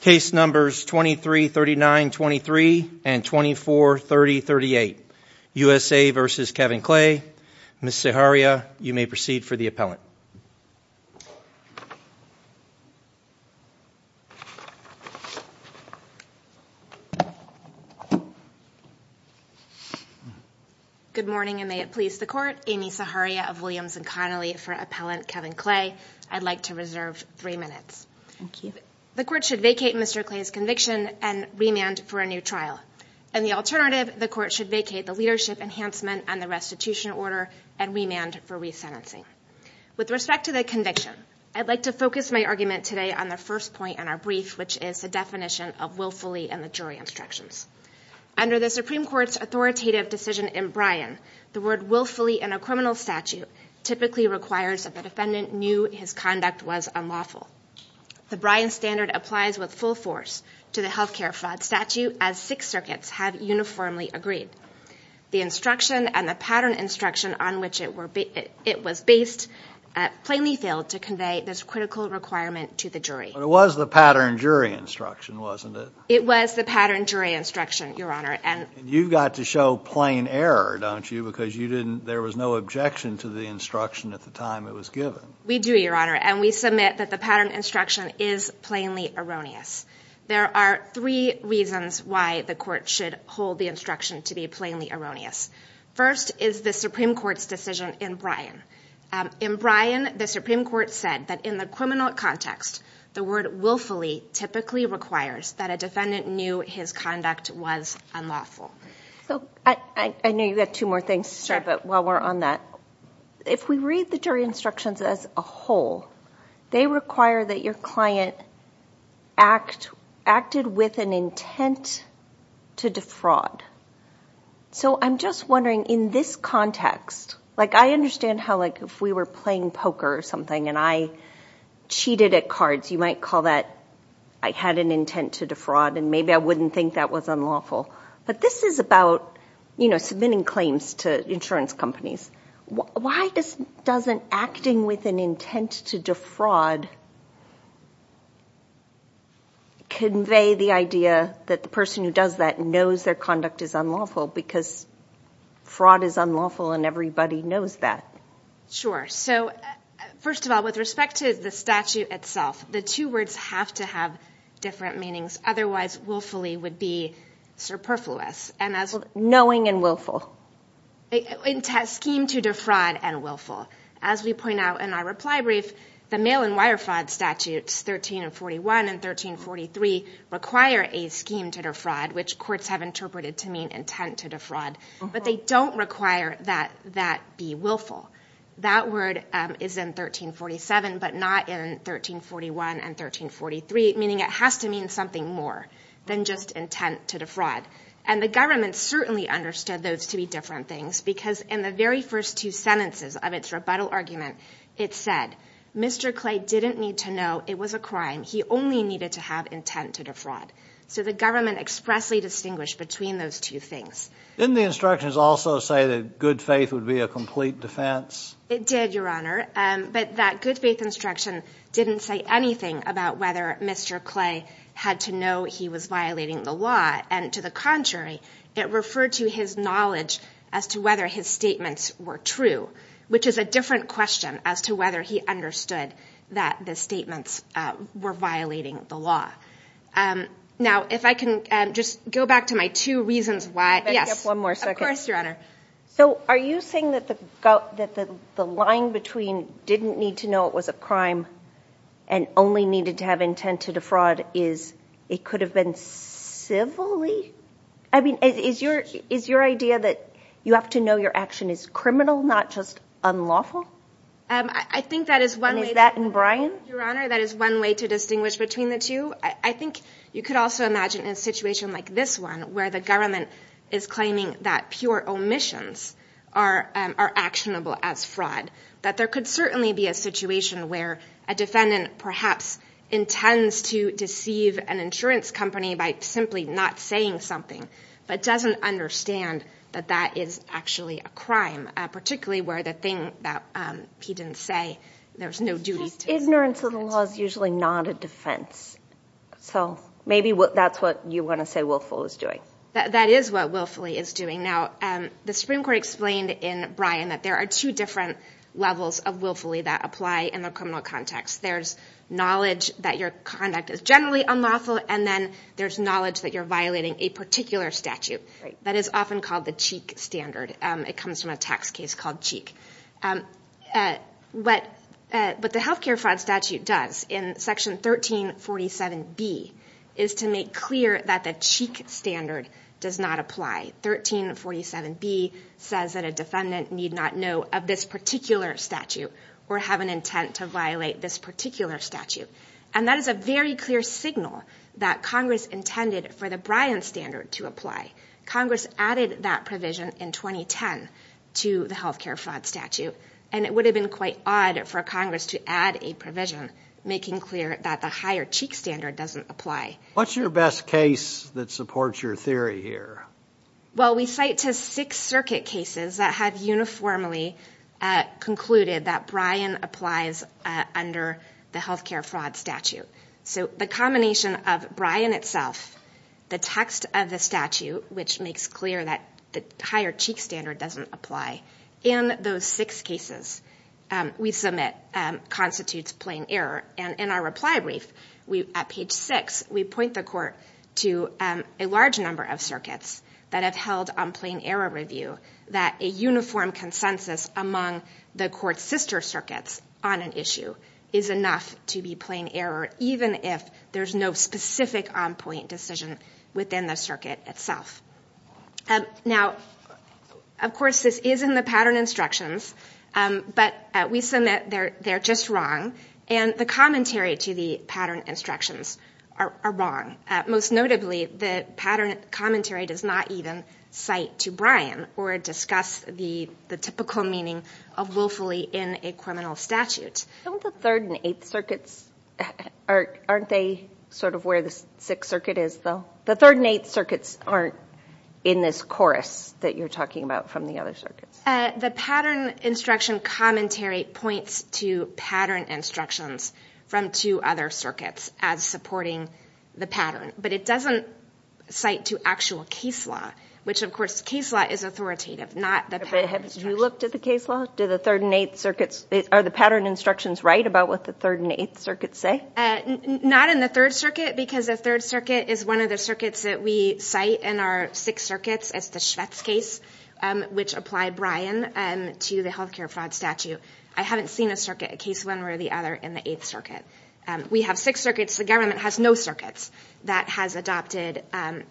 Case numbers 2339-23 and 2430-38. USA v. Kevin Clay. Ms. Zaharia, you may proceed for the appellant. Good morning and may it please the court. Amy Zaharia of Williams and Connolly for appellant Kevin Clay. I'd like to reserve three minutes. Thank you. The court should vacate Mr. Clay's conviction and remand for a new trial. And the alternative, the court should vacate the leadership enhancement on the restitution order and remand for resentencing. With respect to the conviction, I'd like to focus my argument today on the first point in our brief, which is the definition of willfully and the jury instructions. Under the Supreme Court's authoritative decision in Bryan, the word willfully in a criminal statute typically requires that the defendant knew his conduct was unlawful. The Bryan standard applies with full force to the health care fraud statute as six circuits have uniformly agreed. The instruction and the pattern instruction on which it was based plainly failed to convey this critical requirement to the jury. But it was the pattern jury instruction, wasn't it? It was the pattern jury instruction, Your Honor. And you've got to show plain error, don't you? Because you didn't, there was no objection to the instruction at the time it was given. We do, Your Honor, and we submit that the pattern instruction is plainly erroneous. There are three reasons why the court should hold the instruction to be plainly erroneous. First is the Supreme Court's decision in Bryan. In Bryan, the Supreme Court said that in the criminal context, the word willfully typically requires that a defendant knew his conduct was unlawful. So, I know you've got two more things to say, but while we're on that, if we read the jury instructions as a whole, they require that your client act, acted with an intent to defraud. So, I'm just wondering in this context, like I understand how like if we were playing poker or something and I cheated at cards, you might call that I had an intent to defraud and maybe I wouldn't think that was unlawful. But this is about, you know, submitting claims to insurance companies. Why doesn't acting with an intent to defraud convey the idea that the person who does that knows their conduct is unlawful? Because fraud is unlawful and everybody knows that. Sure. So, first of all, with respect to the statute itself, the two words have to have different meanings. Otherwise, willfully would be superfluous. Knowing and willful. Scheme to defraud and willful. As we point out in our reply brief, the mail-and-wire fraud statutes 1341 and 1343 require a scheme to defraud, which courts have interpreted to mean intent to defraud. But they don't require that that be willful. That word is in 1347, but not in 1341 and 1343, meaning it has to mean something more than just intent to defraud. And the government certainly understood those to be different things because in the very first two sentences of its rebuttal argument, it said, Mr. Clay didn't need to know it was a crime. He only needed to have intent to defraud. So the government expressly distinguished between those two things. Didn't the instructions also say that good faith would be a complete defense? It did, Your Honor. But that good faith instruction didn't say anything about whether Mr. Clay had to know he was violating the law. And to the contrary, it referred to his knowledge as to whether his statements were true, which is a different question as to whether he understood that the statements were violating the law. Now, if I can just go back to my two reasons why. Yes, one more second. Of course, Your Honor. So are you saying that the line between didn't need to know it was a crime and only needed to have intent to defraud is it could have been civilly? I mean, is your idea that you have to know your action is criminal, not just unlawful? I think that is one way. And is that in Bryan? Your Honor, that is one way to distinguish between the two. I think that Mr. Clay is claiming that pure omissions are actionable as fraud. That there could certainly be a situation where a defendant perhaps intends to deceive an insurance company by simply not saying something, but doesn't understand that that is actually a crime. Particularly where the thing that he didn't say, there's no duty to it. Ignorance of the law is usually not a defense. So maybe that's what you want to say Willful was doing. That is what Willfully is doing. Now the Supreme Court explained in Bryan that there are two different levels of Willfully that apply in the criminal context. There's knowledge that your conduct is generally unlawful and then there's knowledge that you're violating a particular statute that is often called the Cheek Standard. It comes from a tax case called Cheek. But what the health care fraud statute does in section 1347 B is to make clear that the Cheek Standard does not apply. 1347 B says that a defendant need not know of this particular statute or have an intent to violate this particular statute. And that is a very clear signal that Congress intended for the Bryan Standard to apply. Congress added that provision in 2010 to the health care fraud statute and it would have been quite odd for Congress to add a provision making clear that the higher Cheek Standard doesn't apply. What's your best case that supports your theory here? Well we cite to six circuit cases that have uniformly concluded that Bryan applies under the health care fraud statute. So the combination of Bryan itself, the text of the statute which makes clear that the higher Cheek Standard doesn't apply, in those six cases we submit constitutes plain error. And in our reply brief at page 6 we point the court to a large number of circuits that have held on plain error review that a uniform consensus among the court's sister circuits on an issue is enough to be plain error even if there's no specific on-point decision within the circuit itself. Now of course this is in the pattern instructions but we submit they're just wrong and the commentary to the pattern instructions are wrong. Most notably the pattern commentary does not even cite to Bryan or discuss the the typical meaning of willfully in a criminal statute. Don't the 3rd and 8th circuits, aren't they sort of where the 6th circuit is though? The 3rd and 8th circuits aren't in this chorus that you're talking about from the other circuits. The pattern instruction commentary points to pattern instructions from two other circuits as supporting the pattern but it doesn't cite to actual case law which of course case law is authoritative not the pattern. Did you look to the case law? Do the 3rd and 8th circuits, are the pattern instructions right about what the 3rd and 8th circuits say? Not in the 3rd circuit because the 3rd circuit is one of the circuits that we cite in our 6 circuits as the Schvitz case which applied Bryan to the health care fraud statute. I haven't seen a circuit, a case one or the other in the 8th circuit. We have 6 circuits, the government has no circuits that has adopted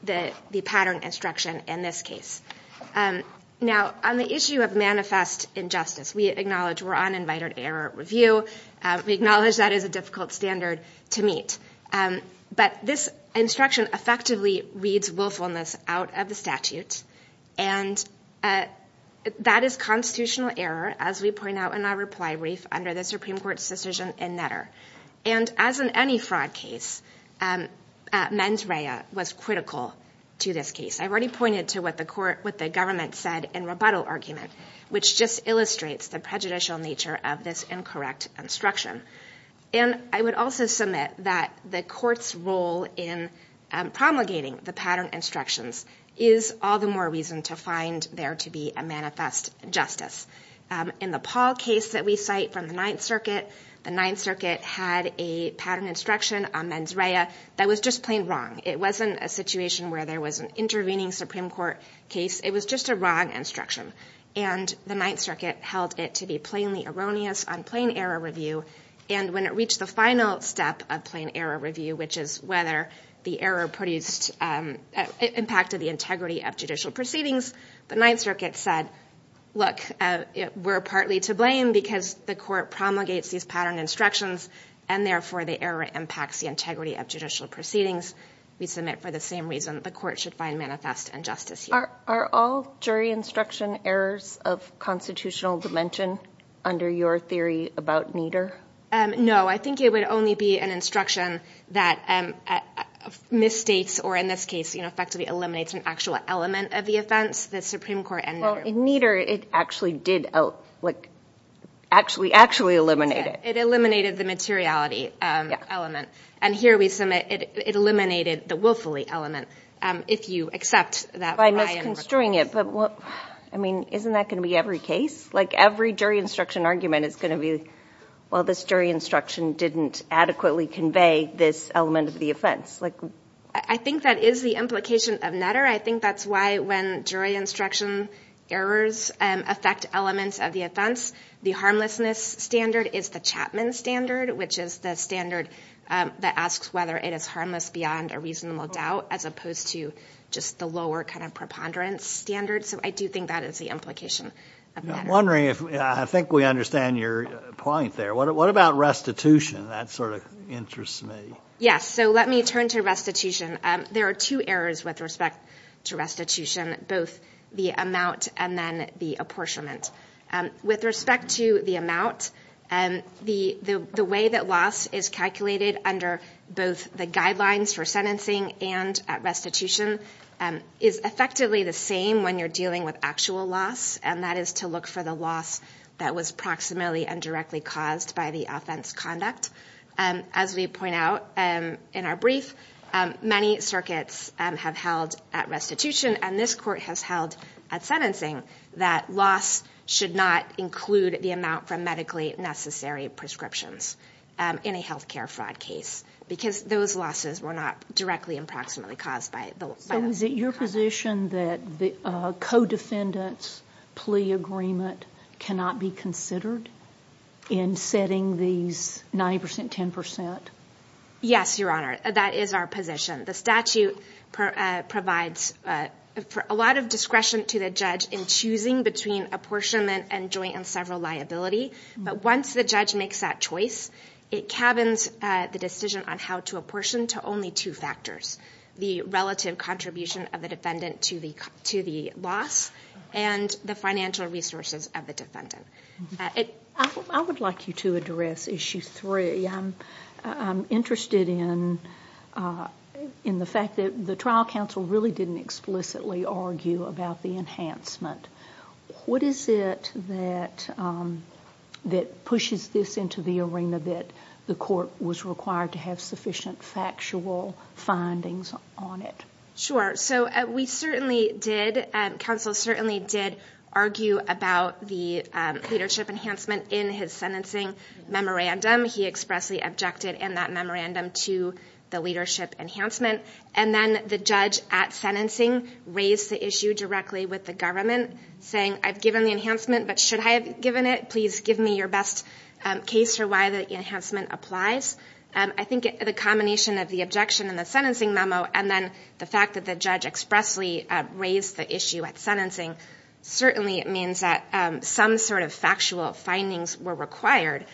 the pattern instruction in this case. Now on the issue of manifest injustice we acknowledge we're on invited error review. We acknowledge that is a difficult standard to meet but this instruction effectively reads willfulness out of the statute and that is constitutional error as we point out in our reply brief under the Supreme Court's decision in Netter. And as in any fraud case mens rea was critical to this case. I've already pointed to what the court, what the government said in rebuttal argument which just illustrates the prejudicial nature of this incorrect instruction. And I would also submit that the court's role in promulgating the pattern instructions is all the more reason to find there to be a manifest justice. In the Paul case that we cite from the 9th circuit, the 9th circuit had a pattern instruction on mens rea that was just plain wrong. It wasn't a situation where there was an intervening Supreme Court case, it was just a wrong instruction. And the 9th circuit held it to be plainly erroneous on plain error review and when it reached the final step of plain error review which is whether the error produced, impacted the integrity of judicial proceedings, the 9th circuit said, look, we're partly to blame because the court promulgates these pattern instructions and therefore the error impacts the integrity of judicial proceedings. We submit for the same reason the court should find manifest injustice. Are all jury instruction errors of constitutional dimension under your theory about Nieder? No, I think it would only be an instruction that misstates or in this case, you know, effectively eliminates an actual element of the offense, the Supreme Court and Nieder. Well, in Nieder it actually did, like, actually actually eliminate it. It eliminated the materiality element and here we submit it eliminated the willfully element if you accept that. By misconstruing it, but what, I mean, isn't that going to be every case? Like every jury instruction argument is going to be, well, this jury instruction didn't adequately convey this element of the offense. I think that is the implication of Nieder. I think that's why when jury instruction errors affect elements of the offense, the harmlessness standard is the Chapman standard, which is the standard that asks whether it is harmless beyond a reasonable doubt as opposed to just the lower kind of preponderance standard. So I do think that is the implication. I'm wondering if, I think we understand your point there, what about restitution? That sort of interests me. Yes, so let me turn to restitution. There are two errors with respect to restitution, both the amount and then the apportionment. With respect to the amount, the way that loss is calculated under both the guidelines for sentencing and at restitution is effectively the same when you're dealing with actual loss, and that is to look for the loss that was approximately and directly caused by the offense conduct. As we point out in our brief, many circuits have held at restitution and this court has held at sentencing that loss should not include the amount from medically necessary prescriptions in a health care fraud case because those losses were not directly and proximately caused by the loss. So is it your position that the co-defendants plea agreement cannot be considered in setting these 90%-10%? Yes, Your Honor, that is our position. The statute provides a lot of discretion to the judge in choosing between apportionment and joint and several liability, but once the judge makes that choice, it cabins the decision on how to apportion to only two factors, the relative contribution of the defendant to the loss and the financial resources of the defendant. I would like you to address issue three. I'm interested in the fact that the trial counsel really didn't explicitly argue about the enhancement. What is it that pushes this into the arena that the court was required to have sufficient factual findings on it? Sure, so we certainly did, counsel certainly did argue about the leadership enhancement in his sentencing memorandum. He expressly objected in that memorandum to the leadership enhancement and then the judge at sentencing raised the issue directly with the government saying, I've given the enhancement but should I have given it? Please give me your best case for why the enhancement applies. I think the combination of the objection in the sentencing memo and then the fact that the judge expressly raised the issue at sentencing certainly means that some sort of factual findings were required.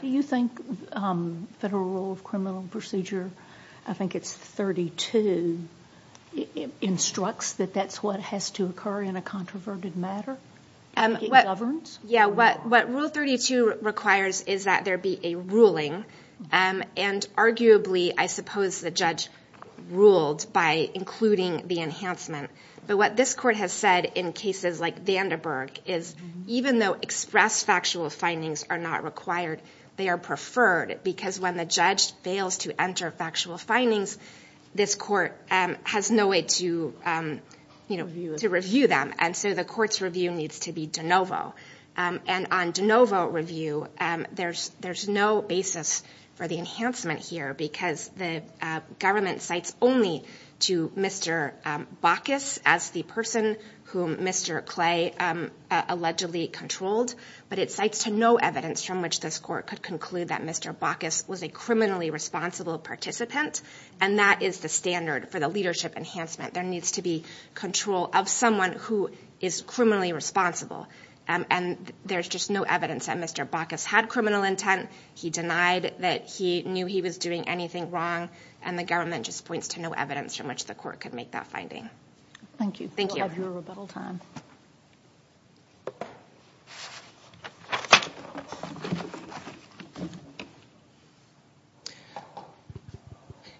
Do you think federal rule of criminal procedure, I think it's 32, instructs that that's what has to occur in a controverted matter? What rule 32 requires is that there be a ruling and arguably I suppose the judge ruled by including the enhancement. But what this court has said in cases like Vandenberg is even though express factual findings are not required, they are preferred because when the judge fails to enter factual findings, this court has no way to review them and so the court's review needs to be de novo. And on de novo review, there's no basis for the enhancement here because the government cites only to Mr. Bacchus as the person whom Mr. Clay allegedly controlled but it cites to no evidence from which this court could conclude that Mr. Bacchus was a criminally responsible participant and that is the standard for the leadership enhancement. There needs to be control of someone who is criminally responsible and there's just no evidence that Mr. Bacchus had criminal intent. He denied that he knew he was doing anything wrong and the government just points to no evidence from which the court could make that finding. Thank you for your rebuttal time.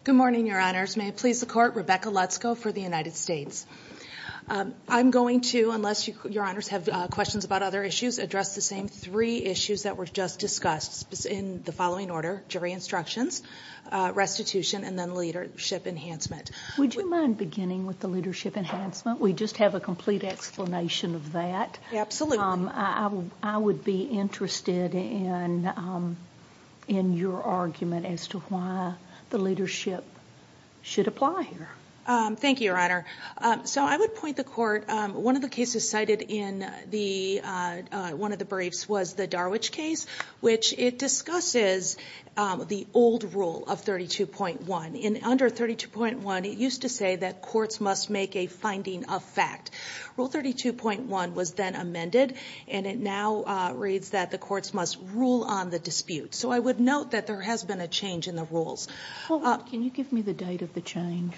Good morning, your honors. May it please the court, Rebecca Lutzko for the United States. I'm going to, unless your honors have questions about other issues, address the same three issues that were just discussed in the following order. Jury instructions, restitution, and then leadership enhancement. Would you mind beginning with the leadership enhancement? We just have a complete explanation of that. Absolutely. I would be interested in your argument as to why the leadership should apply here. Thank you, your honor. So I would point the court, one of the cases cited in the one of the briefs was the Darwich case, which it discusses the old rule of 32.1. Under 32.1, it used to say that courts must make a finding of fact. Rule 32.1 was then amended and it now reads that the courts must rule on the dispute. So I would note that there has been a change in the rules. Can you give me the date of the change?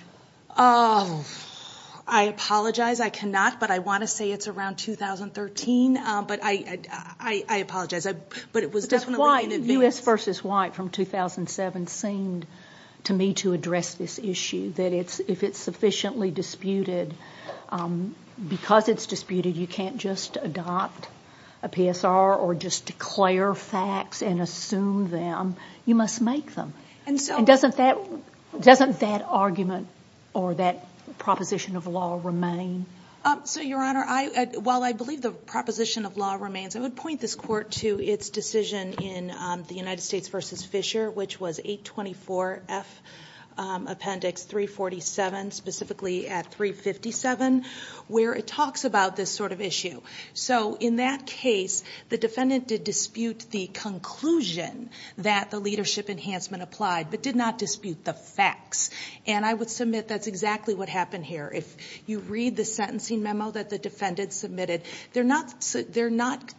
I apologize, I cannot, but I want to say it's around 2013, but I apologize, but it was definitely in advance. U.S. v. White from 2007 seemed to me to address this issue, that if it's sufficiently disputed, because it's disputed, you can't just adopt a PSR or just declare facts and assume them. You must make them. And doesn't that argument or that proposition of law remain? So, your honor, while I believe the proposition of law remains, I would point this court to its decision in the United States v. Fisher, which was 824F Appendix 347, specifically at 357, where it talks about this sort of issue. So in that case, the defendant did dispute the conclusion that the leadership enhancement applied, but did not dispute the facts. And I would submit that's exactly what happened here. If you read the sentencing memo that the defendant submitted, they're not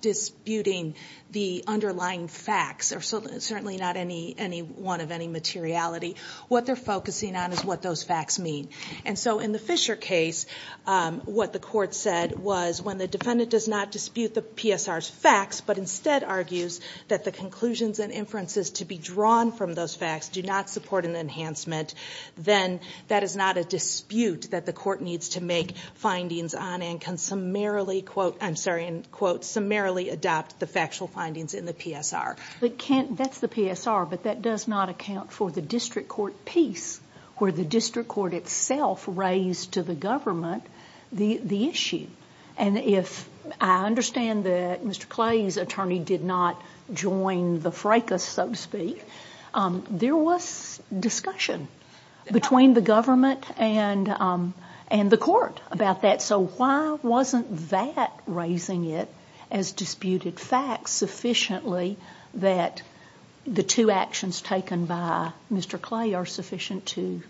disputing the underlying facts, or certainly not any one of any materiality. What they're focusing on is what those facts mean. And so in the Fisher case, what the court said was, when the defendant does not dispute the PSR's facts, but instead argues that the conclusions and inferences to be drawn from those facts do not support an enhancement, then that is not a dispute that the court needs to make findings on and can summarily, quote, I'm sorry, and quote, summarily adopt the factual findings in the PSR. But can't, that's the PSR, but that does not account for the district court piece, where the district court itself raised to the government the issue. And if I understand that Mr. Clay's attorney did not join the fracas, so to speak, there was discussion between the government and the court about that. So why wasn't that raising it as disputed facts sufficiently that the two actions taken by Mr. Clay are sufficient to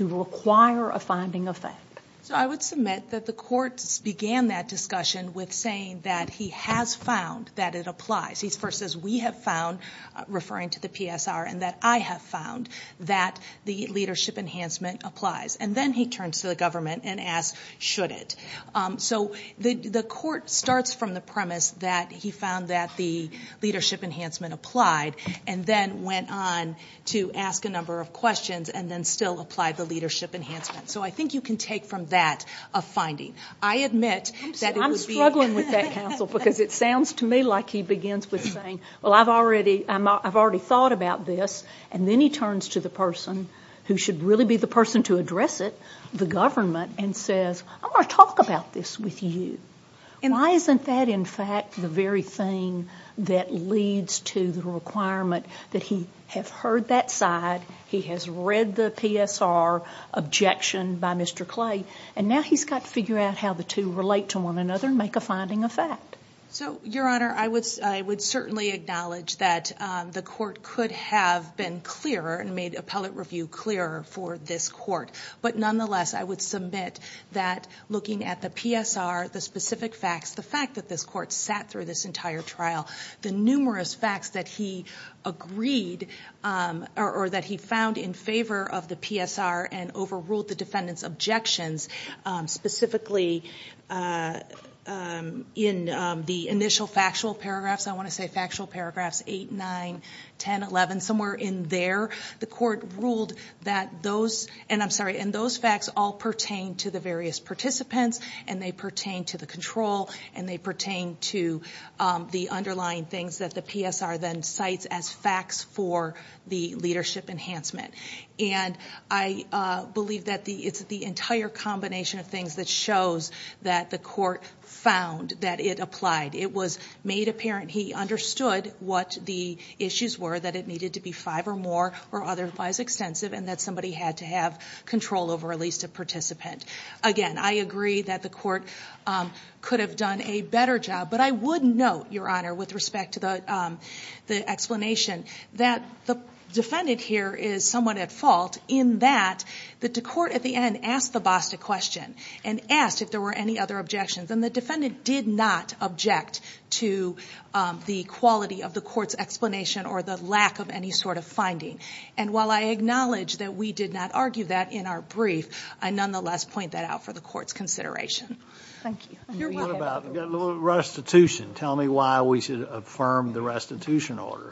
require a finding of that? So I would submit that the courts began that discussion with saying that he has found that it applies. He first says we have found, referring to the PSR, and that I have found that the leadership enhancement applies. And then he turns to the government and asks, should it? So the court starts from the premise that he found that the leadership enhancement applied and then went on to ask a number of questions and then still applied the leadership enhancement. So I think you can take from that a finding. I admit that it would be- I'm struggling with that, counsel, because it sounds to me like he begins with saying, well, I've already thought about this. And then he turns to the person who should really be the person to address it, the government, and says, I want to talk about this with you. Why isn't that, in fact, the very thing that leads to the requirement that he have heard that side, he has read the PSR objection by Mr. Clay, and now he's got to figure out how the two relate to one another and make a finding of fact. So Your Honor, I would certainly acknowledge that the court could have been clearer and made appellate review clearer for this court. But nonetheless, I would submit that looking at the PSR, the specific facts, the fact that this court sat through this entire trial, the numerous facts that he agreed or that he found in favor of the PSR and overruled the defendant's objections, specifically in the initial factual paragraphs, I want to that those, and I'm sorry, and those facts all pertain to the various participants, and they pertain to the control, and they pertain to the underlying things that the PSR then cites as facts for the leadership enhancement. And I believe that it's the entire combination of things that shows that the court found that it applied. It was made apparent he understood what the issues were, that it needed to be five or more or otherwise extensive, and that somebody had to have control over at least a participant. Again, I agree that the court could have done a better job, but I would note, Your Honor, with respect to the explanation, that the defendant here is somewhat at fault in that the court at the end asked the boss a question and asked if there were any other objections, and the defendant did not object to the quality of the court's explanation or the lack of any sort of finding. And while I acknowledge that we did not argue that in our brief, I nonetheless point that out for the court's consideration. Thank you. What about restitution? Tell me why we should affirm the restitution order.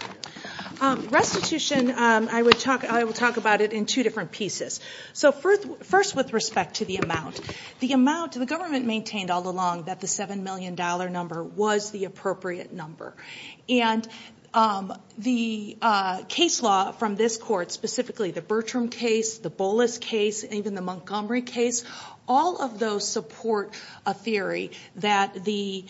Restitution, I will talk about it in two different pieces. So first with respect to the amount, the government maintained all along that the $7 million number was the appropriate number. And the case law from this court, specifically the Bertram case, the Bolas case, even the Montgomery case, all of those support a theory that the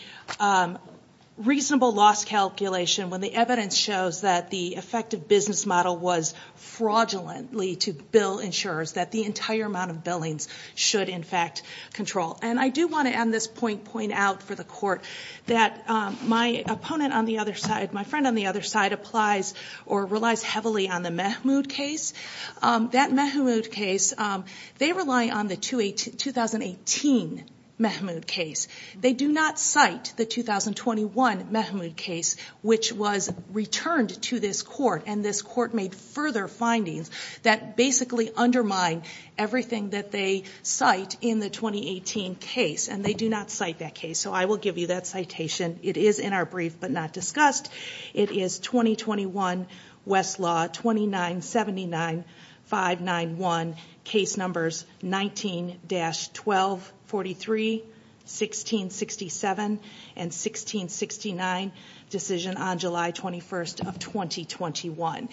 reasonable loss calculation, when the evidence shows that the effective business model was fraudulently to bill insurers, that the entire amount of billings should in fact control. And I do want to at this point point out for the court that my opponent on the other side, my friend on the other side applies or relies heavily on the Mahmood case. That Mahmood case, they rely on the 2018 Mahmood case. They do not cite the 2021 Mahmood case, which was returned to this court. And this court made further findings that basically undermine everything that they cite in the 2018 case. And they do not cite that case. So I will give you that citation. It is in our brief, but not discussed. It is 2021 Westlaw 2979-591, case numbers 19-1243, 1667, and 1669, decision on July 1st, 2018.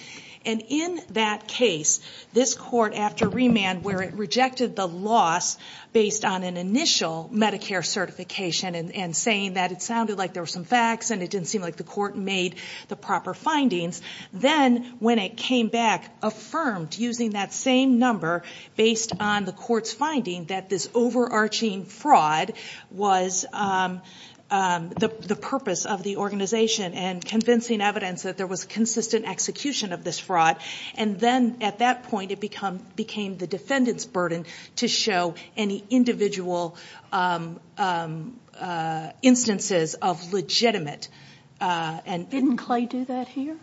And in that case, this court, after remand, where it rejected the loss based on an initial Medicare certification and saying that it sounded like there were some facts and it didn't seem like the court made the proper findings, then when it came back, affirmed using that same number based on the court's finding that this overarching fraud was the purpose of the organization and convincing evidence that there was consistent execution of this fraud. And then at that point, it became the defendant's burden to show any individual instances of legitimate. Didn't Clay do that here?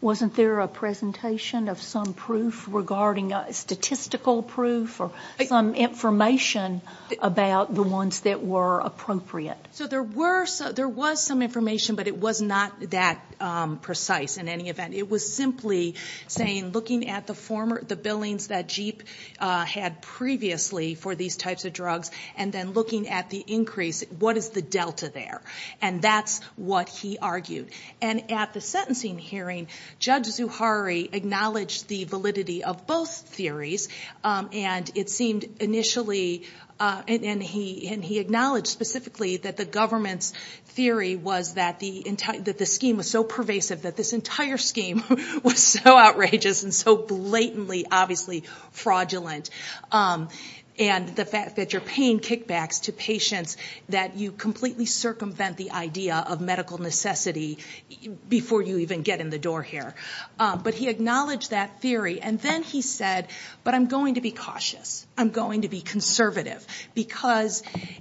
Wasn't there a presentation of some proof regarding statistical proof or some information about the ones that were appropriate? So there was some information, but it was not that precise in any event. It was simply saying looking at the former, the billings that Jeep had previously for these types of drugs and then looking at the increase, what is the delta there? And that's what he argued. And at the sentencing hearing, Judge Zuhari acknowledged the validity of both theories and it seemed initially, and he acknowledged specifically that the government's theory was that the scheme was so pervasive that this entire scheme was so outrageous and so blatantly, obviously, fraudulent. And the fact that you're paying kickbacks to patients, that you completely circumvent the idea of medical necessity before you even get in the door here. But he acknowledged that theory and then he said, but I'm going to be cautious. I'm going to be conservative.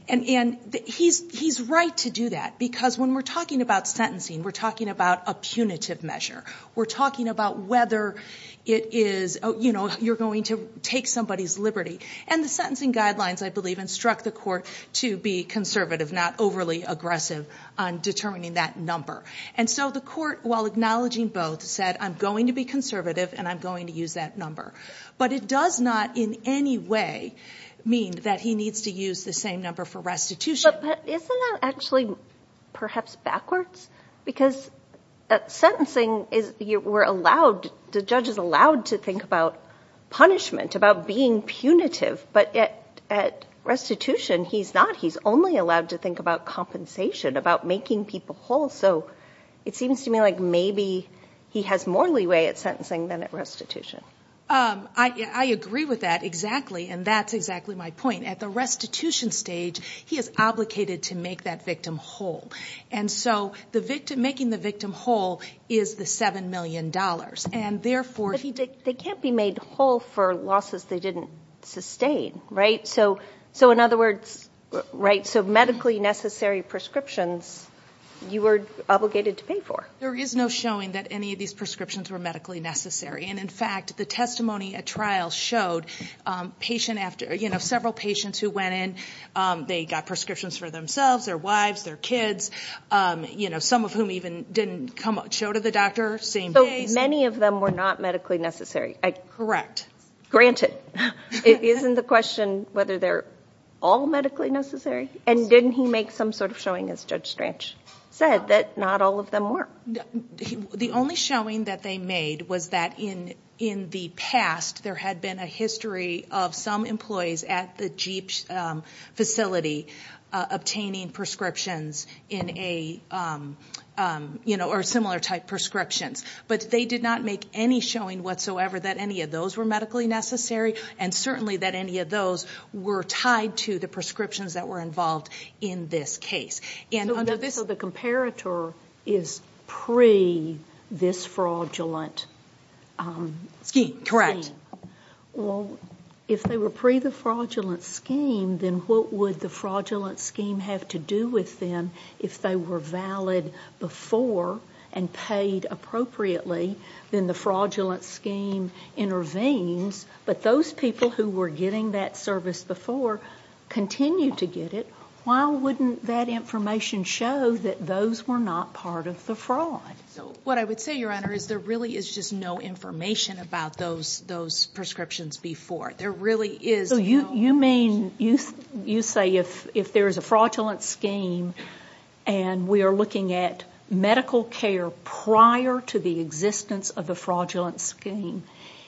And he's right to do that because when we're talking about sentencing, we're talking about a punitive measure. We're talking about whether you're going to take somebody's liberty. And the sentencing guidelines, I believe, instruct the court to be conservative, not overly aggressive on determining that number. And so the court, while acknowledging both said, I'm going to be conservative and I'm going to use that number. But it does not in any way mean that he needs to use the same number for restitution. But isn't that actually perhaps backwards? Because at sentencing, the judge is allowed to think about punishment, about being punitive. But at restitution, he's not. He's only allowed to think about compensation, about making people whole. So it seems to me like maybe he has more leeway at sentencing than at restitution. I agree with that exactly. And that's exactly my point. At the restitution stage, he is obligated to make that victim whole. And so making the victim whole is the $7 million. But they can't be made whole for losses they didn't sustain, right? So in other words, so medically necessary prescriptions, you were obligated to pay for. There is no showing that any of these prescriptions were medically necessary. And in fact, the testimony at trial showed several patients who went in, they got prescriptions for themselves, their wives, their kids, some of whom even didn't show to the doctor, same case. Many of them were not medically necessary, granted. Isn't the question whether they're all medically necessary? And didn't he make some sort of showing, as Judge Strach said, that not all of them were? The only showing that they made was that in the past, there had been a history of some employees at the Jeep facility obtaining prescriptions in a, you know, or similar type prescriptions. But they did not make any showing whatsoever that any of those were medically necessary, and certainly that any of those were tied to the prescriptions that were involved in this case. So the comparator is pre this fraudulent scheme? Correct. Well, if they were pre the fraudulent scheme, then what would the fraudulent scheme have to do with them if they were valid before and paid appropriately? Then the fraudulent scheme intervenes, but those people who were getting that service before continued to get it. Why wouldn't that information show that those were not part of the fraud? What I would say, Your Honor, is there really is just no information about those prescriptions before. There really is no... You mean, you say if there is a fraudulent scheme and we are looking at medical care prior to the existence of the fraudulent scheme,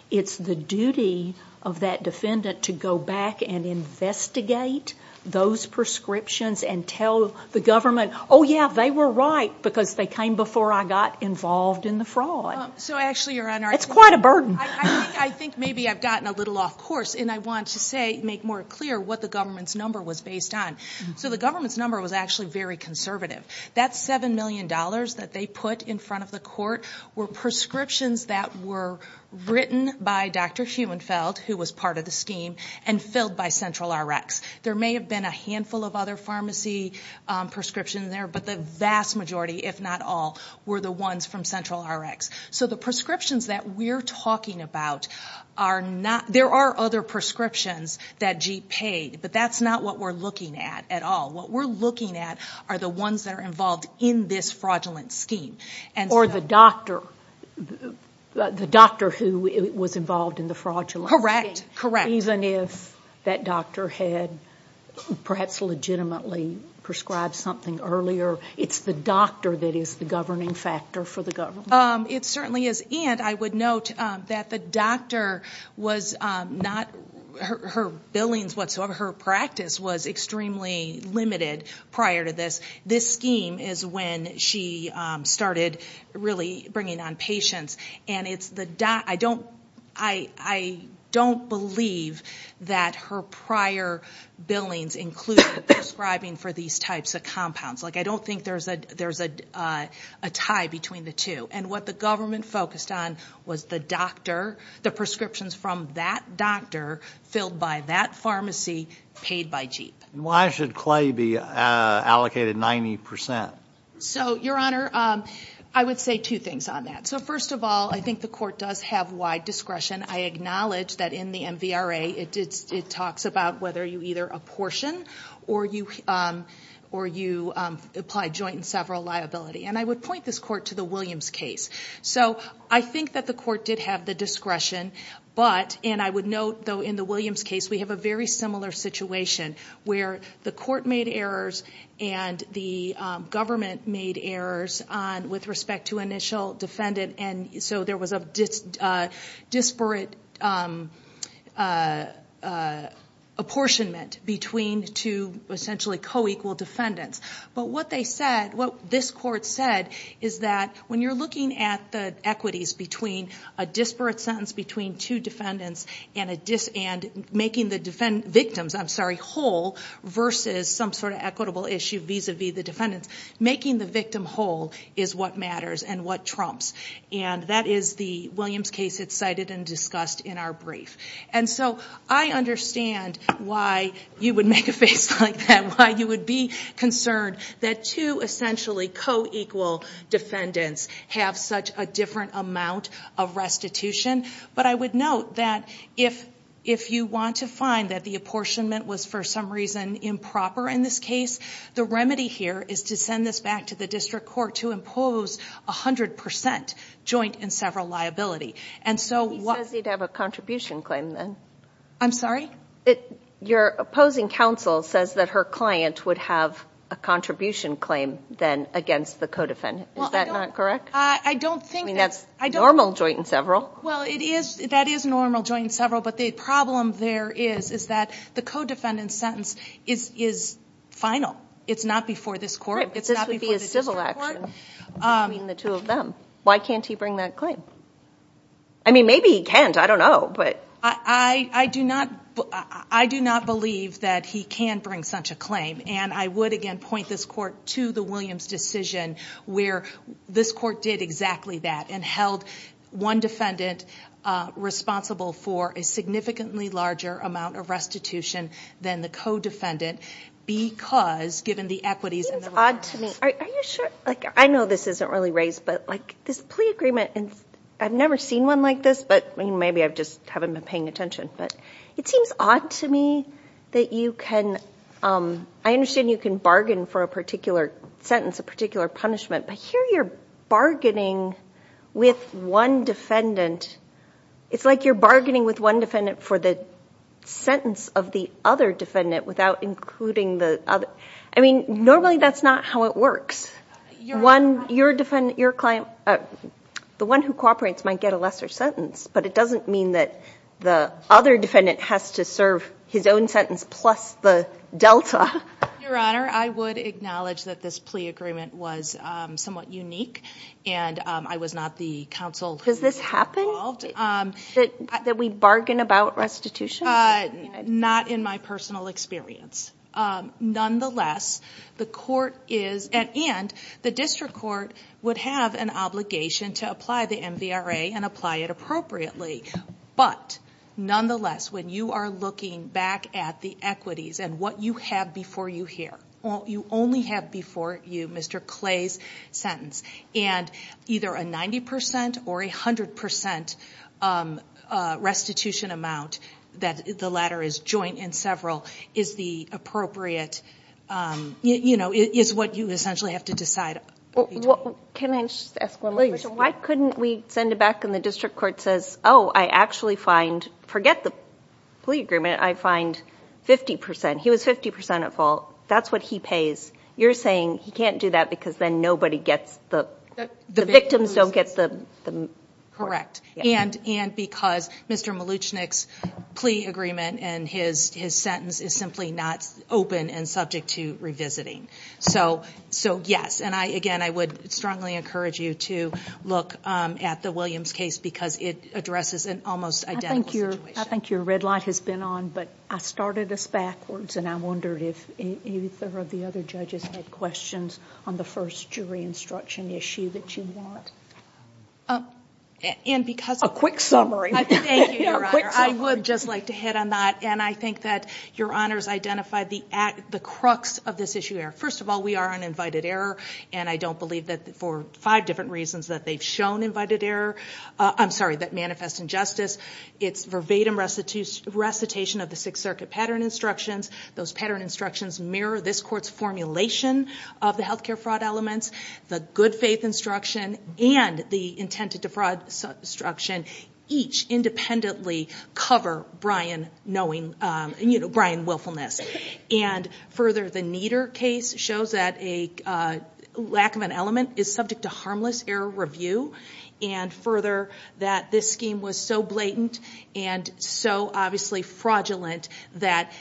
it's the duty of that defendant to go back and investigate those prescriptions and tell the government, oh yeah, they were right because they came before I got involved in the fraud. So actually, Your Honor... It's quite a burden. I think maybe I've gotten a little off course, and I want to make more clear what the government's number was based on. So the government's number was actually very conservative. That $7 million that they put in front of the court were prescriptions that were written by Dr. Huenfeld, who was part of the scheme, and filled by Central Rx. There may have been a handful of other pharmacy prescriptions there, but the vast majority, if not all, were the ones from Central Rx. So the prescriptions that we're talking about are not... There are other prescriptions that GE paid, but that's not what we're looking at at all. What we're looking at are the ones that are involved in this fraudulent scheme. Or the doctor, the doctor who was involved in the fraudulent scheme, even if that doctor had perhaps legitimately prescribed something earlier, it's the doctor that is the governing factor for the government? It certainly is. And I would note that the doctor was not... Her billings whatsoever, her practice was extremely limited prior to this. This scheme is when she started really bringing on patients, and it's the... I don't believe that her prior billings include prescribing for these types of compounds. I don't think there's a tie between the two. And what the government focused on was the doctor, the prescriptions from that doctor, filled by that pharmacy, paid by GE. Why should Clay be allocated 90%? So Your Honor, I would say two things on that. So first of all, I think the court does have wide discretion. I acknowledge that in the MVRA, it talks about whether you either apportion or you apply joint and several liability. And I would point this court to the Williams case. So I think that the court did have the discretion, but... And I would note, though, in the Williams case, we have a very similar situation where the court made errors and the government made errors with respect to initial defendant. And so there was a disparate apportionment between two essentially co-equal defendants. But what they said, what this court said, is that when you're looking at the equities between a disparate sentence between two defendants and making the victims whole versus some sort of equitable issue vis-a-vis the defendants, making the victim whole is what matters and what trumps. And that is the Williams case that's cited and discussed in our brief. And so I understand why you would make a face like that, why you would be concerned that two essentially co-equal defendants have such a different amount of restitution. But I would note that if you want to find that the apportionment was for some reason improper in this case, the remedy here is to send this back to the district court to impose 100 percent joint and several liability. And so... He says he'd have a contribution claim then. I'm sorry? Your opposing counsel says that her client would have a contribution claim then against the co-defendant. Is that not correct? I don't think that... I mean, that's normal joint and several. Well, that is normal joint and several. But the problem there is, is that the co-defendant sentence is final. It's not before this court. Right, but this would be a civil action between the two of them. Why can't he bring that claim? I mean, maybe he can't. I don't know. I do not believe that he can bring such a claim. And I would, again, point this court to the Williams decision where this court did exactly that and held one defendant responsible for a significantly larger amount of restitution than the co-defendant because, given the equities and the restitution... It seems odd to me. Are you sure? I know this isn't really raised, but this plea agreement, and I've never seen one like this, but maybe I just haven't been paying attention. But it seems odd to me that you can... I understand you can bargain for a particular sentence, a particular punishment, but here you're bargaining with one defendant. It's like you're bargaining with one defendant for the sentence of the other defendant without including the other. I mean, normally that's not how it works. Your client, the one who cooperates might get a lesser sentence, but it doesn't mean that the other defendant has to serve his own sentence plus the delta. Your Honor, I would acknowledge that this plea agreement was somewhat unique, and I was not the counsel who was involved. Does this happen? That we bargain about restitution? Not in my personal experience. Nonetheless, the court is... And the district court would have an obligation to apply the MVRA and apply it appropriately. But nonetheless, when you are looking back at the equities and what you have before you here, you only have before you Mr. Clay's sentence, and either a 90% or a 100% restitution amount that the latter is joint and several is the appropriate... Is what you essentially have to decide. Can I just ask one more question? Please. Why couldn't we send it back and the district court says, oh, I actually find... Forget the plea agreement. I find 50%. He was 50% at fault. That's what he pays. You're saying he can't do that because then nobody gets the... The victims don't get the... Correct. And because Mr. Mluchnik's plea agreement and his sentence is simply not open and subject to revisiting. So yes. And again, I would strongly encourage you to look at the Williams case because it addresses an almost identical situation. I think your red light has been on, but I started this backwards and I wondered if either of the other judges had questions on the first jury instruction issue that you want. And because... A quick summary. Thank you, Your Honor. I would just like to hit on that. And I think that Your Honor's identified the crux of this issue here. First of all, we are on invited error, and I don't believe that for five different reasons that they've shown invited error. I'm sorry, that they manifest injustice. It's verbatim recitation of the Sixth Circuit pattern instructions. Those pattern instructions mirror this court's formulation of the healthcare fraud elements. The good faith instruction and the intent to defraud instruction each independently cover Brian knowing... Brian willfulness. And further, the Nieder case shows that a lack of an element is subject to harmless error review. And further, that this scheme was so blatant and so obviously fraudulent that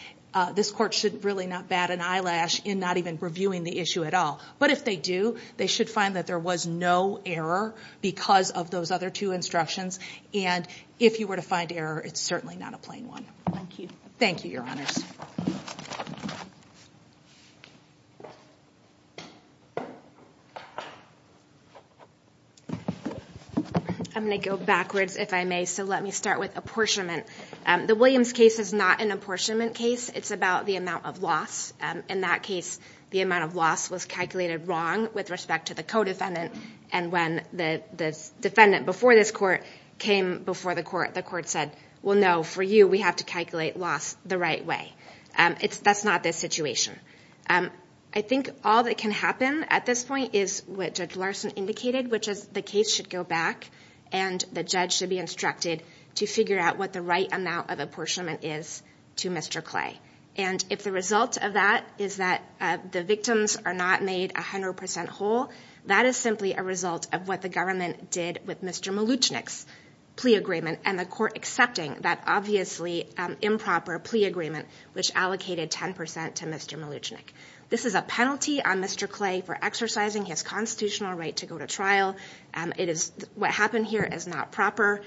this court should really not bat an eyelash in not even reviewing the issue at all. But if they do, they should find that there was no error because of those other two instructions. And if you were to find error, it's certainly not a plain one. Thank you, Your Honors. I'm going to go backwards, if I may. So let me start with apportionment. The Williams case is not an apportionment case. It's about the amount of loss. In that case, the amount of loss was calculated wrong with respect to the co-defendant. And when the defendant before this court came before the court, the court said, well, no, for you, we have to calculate loss the right way. That's not the situation. I think all that can happen at this point is what Judge Larson indicated, which is the case should go back and the judge should be instructed to figure out what the right amount of apportionment is to Mr. Clay. And if the result of that is that the victims are not made 100% whole, that is simply a result of what the government did with Mr. Mluchnik's plea agreement and the court accepting that obviously improper plea agreement, which allocated 10% to Mr. Mluchnik. This is a penalty on Mr. Clay for exercising his constitutional right to go to trial. What happened here is not proper.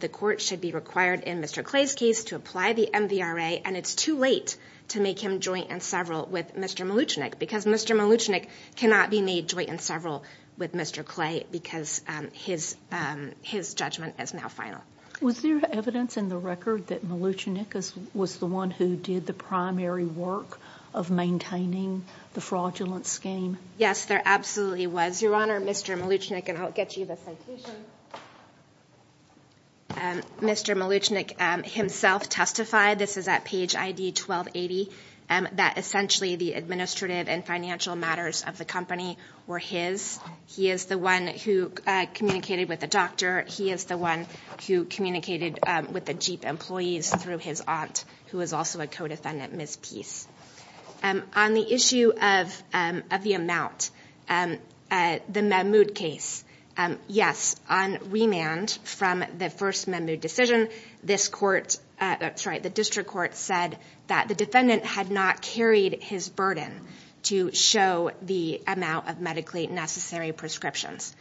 The court should be required in Mr. Clay's case to apply the MVRA and it's too late to make him joint and several with Mr. Mluchnik because Mr. Mluchnik cannot be made joint and several with Mr. Clay because his judgment is now final. Was there evidence in the record that Mluchnik was the one who did the primary work of maintaining the fraudulent scheme? Yes, there absolutely was. Your Honor, Mr. Mluchnik, and I'll get you the citation. Mr. Mluchnik himself testified, this is at page ID 1280, that essentially the administrative and financial matters of the company were his. He is the one who communicated with the doctor. He is the one who communicated with the Jeep employees through his aunt, who is also a co-defendant, Ms. Peace. On the issue of the amount, the Mahmoud case, yes, on remand from the first Mahmoud decision, this court, sorry, the district court said that the defendant had not carried his burden to show the amount of medically necessary prescriptions.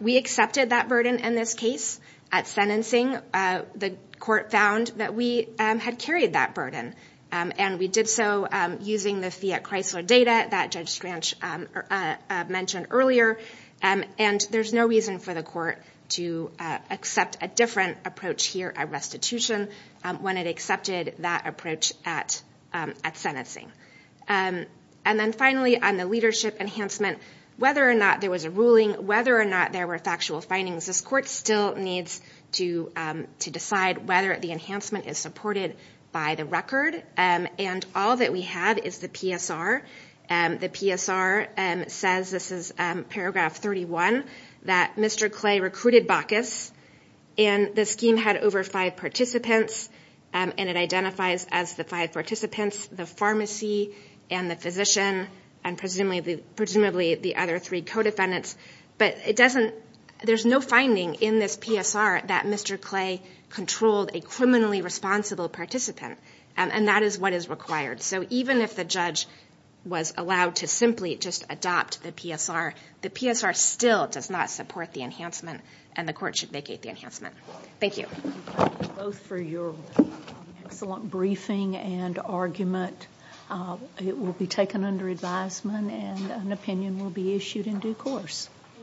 We accepted that burden in this case at sentencing. The court found that we had carried that burden and we did so using the Fiat-Chrysler data that Judge Scranch mentioned earlier. There's no reason for the Fiat restitution when it accepted that approach at sentencing. And then finally, on the leadership enhancement, whether or not there was a ruling, whether or not there were factual findings, this court still needs to decide whether the enhancement is supported by the record. And all that we have is the PSR. The PSR says, this is paragraph 31, that Mr. Clay recruited Bacchus and the scheme had over five participants and it identifies as the five participants, the pharmacy and the physician and presumably the other three co-defendants. But it doesn't, there's no finding in this PSR that Mr. Clay controlled a criminally responsible participant. And that is what is required. So even if the judge was allowed to simply just adopt the PSR, the PSR still does not support the enhancement and the court should vacate the enhancement. Thank you.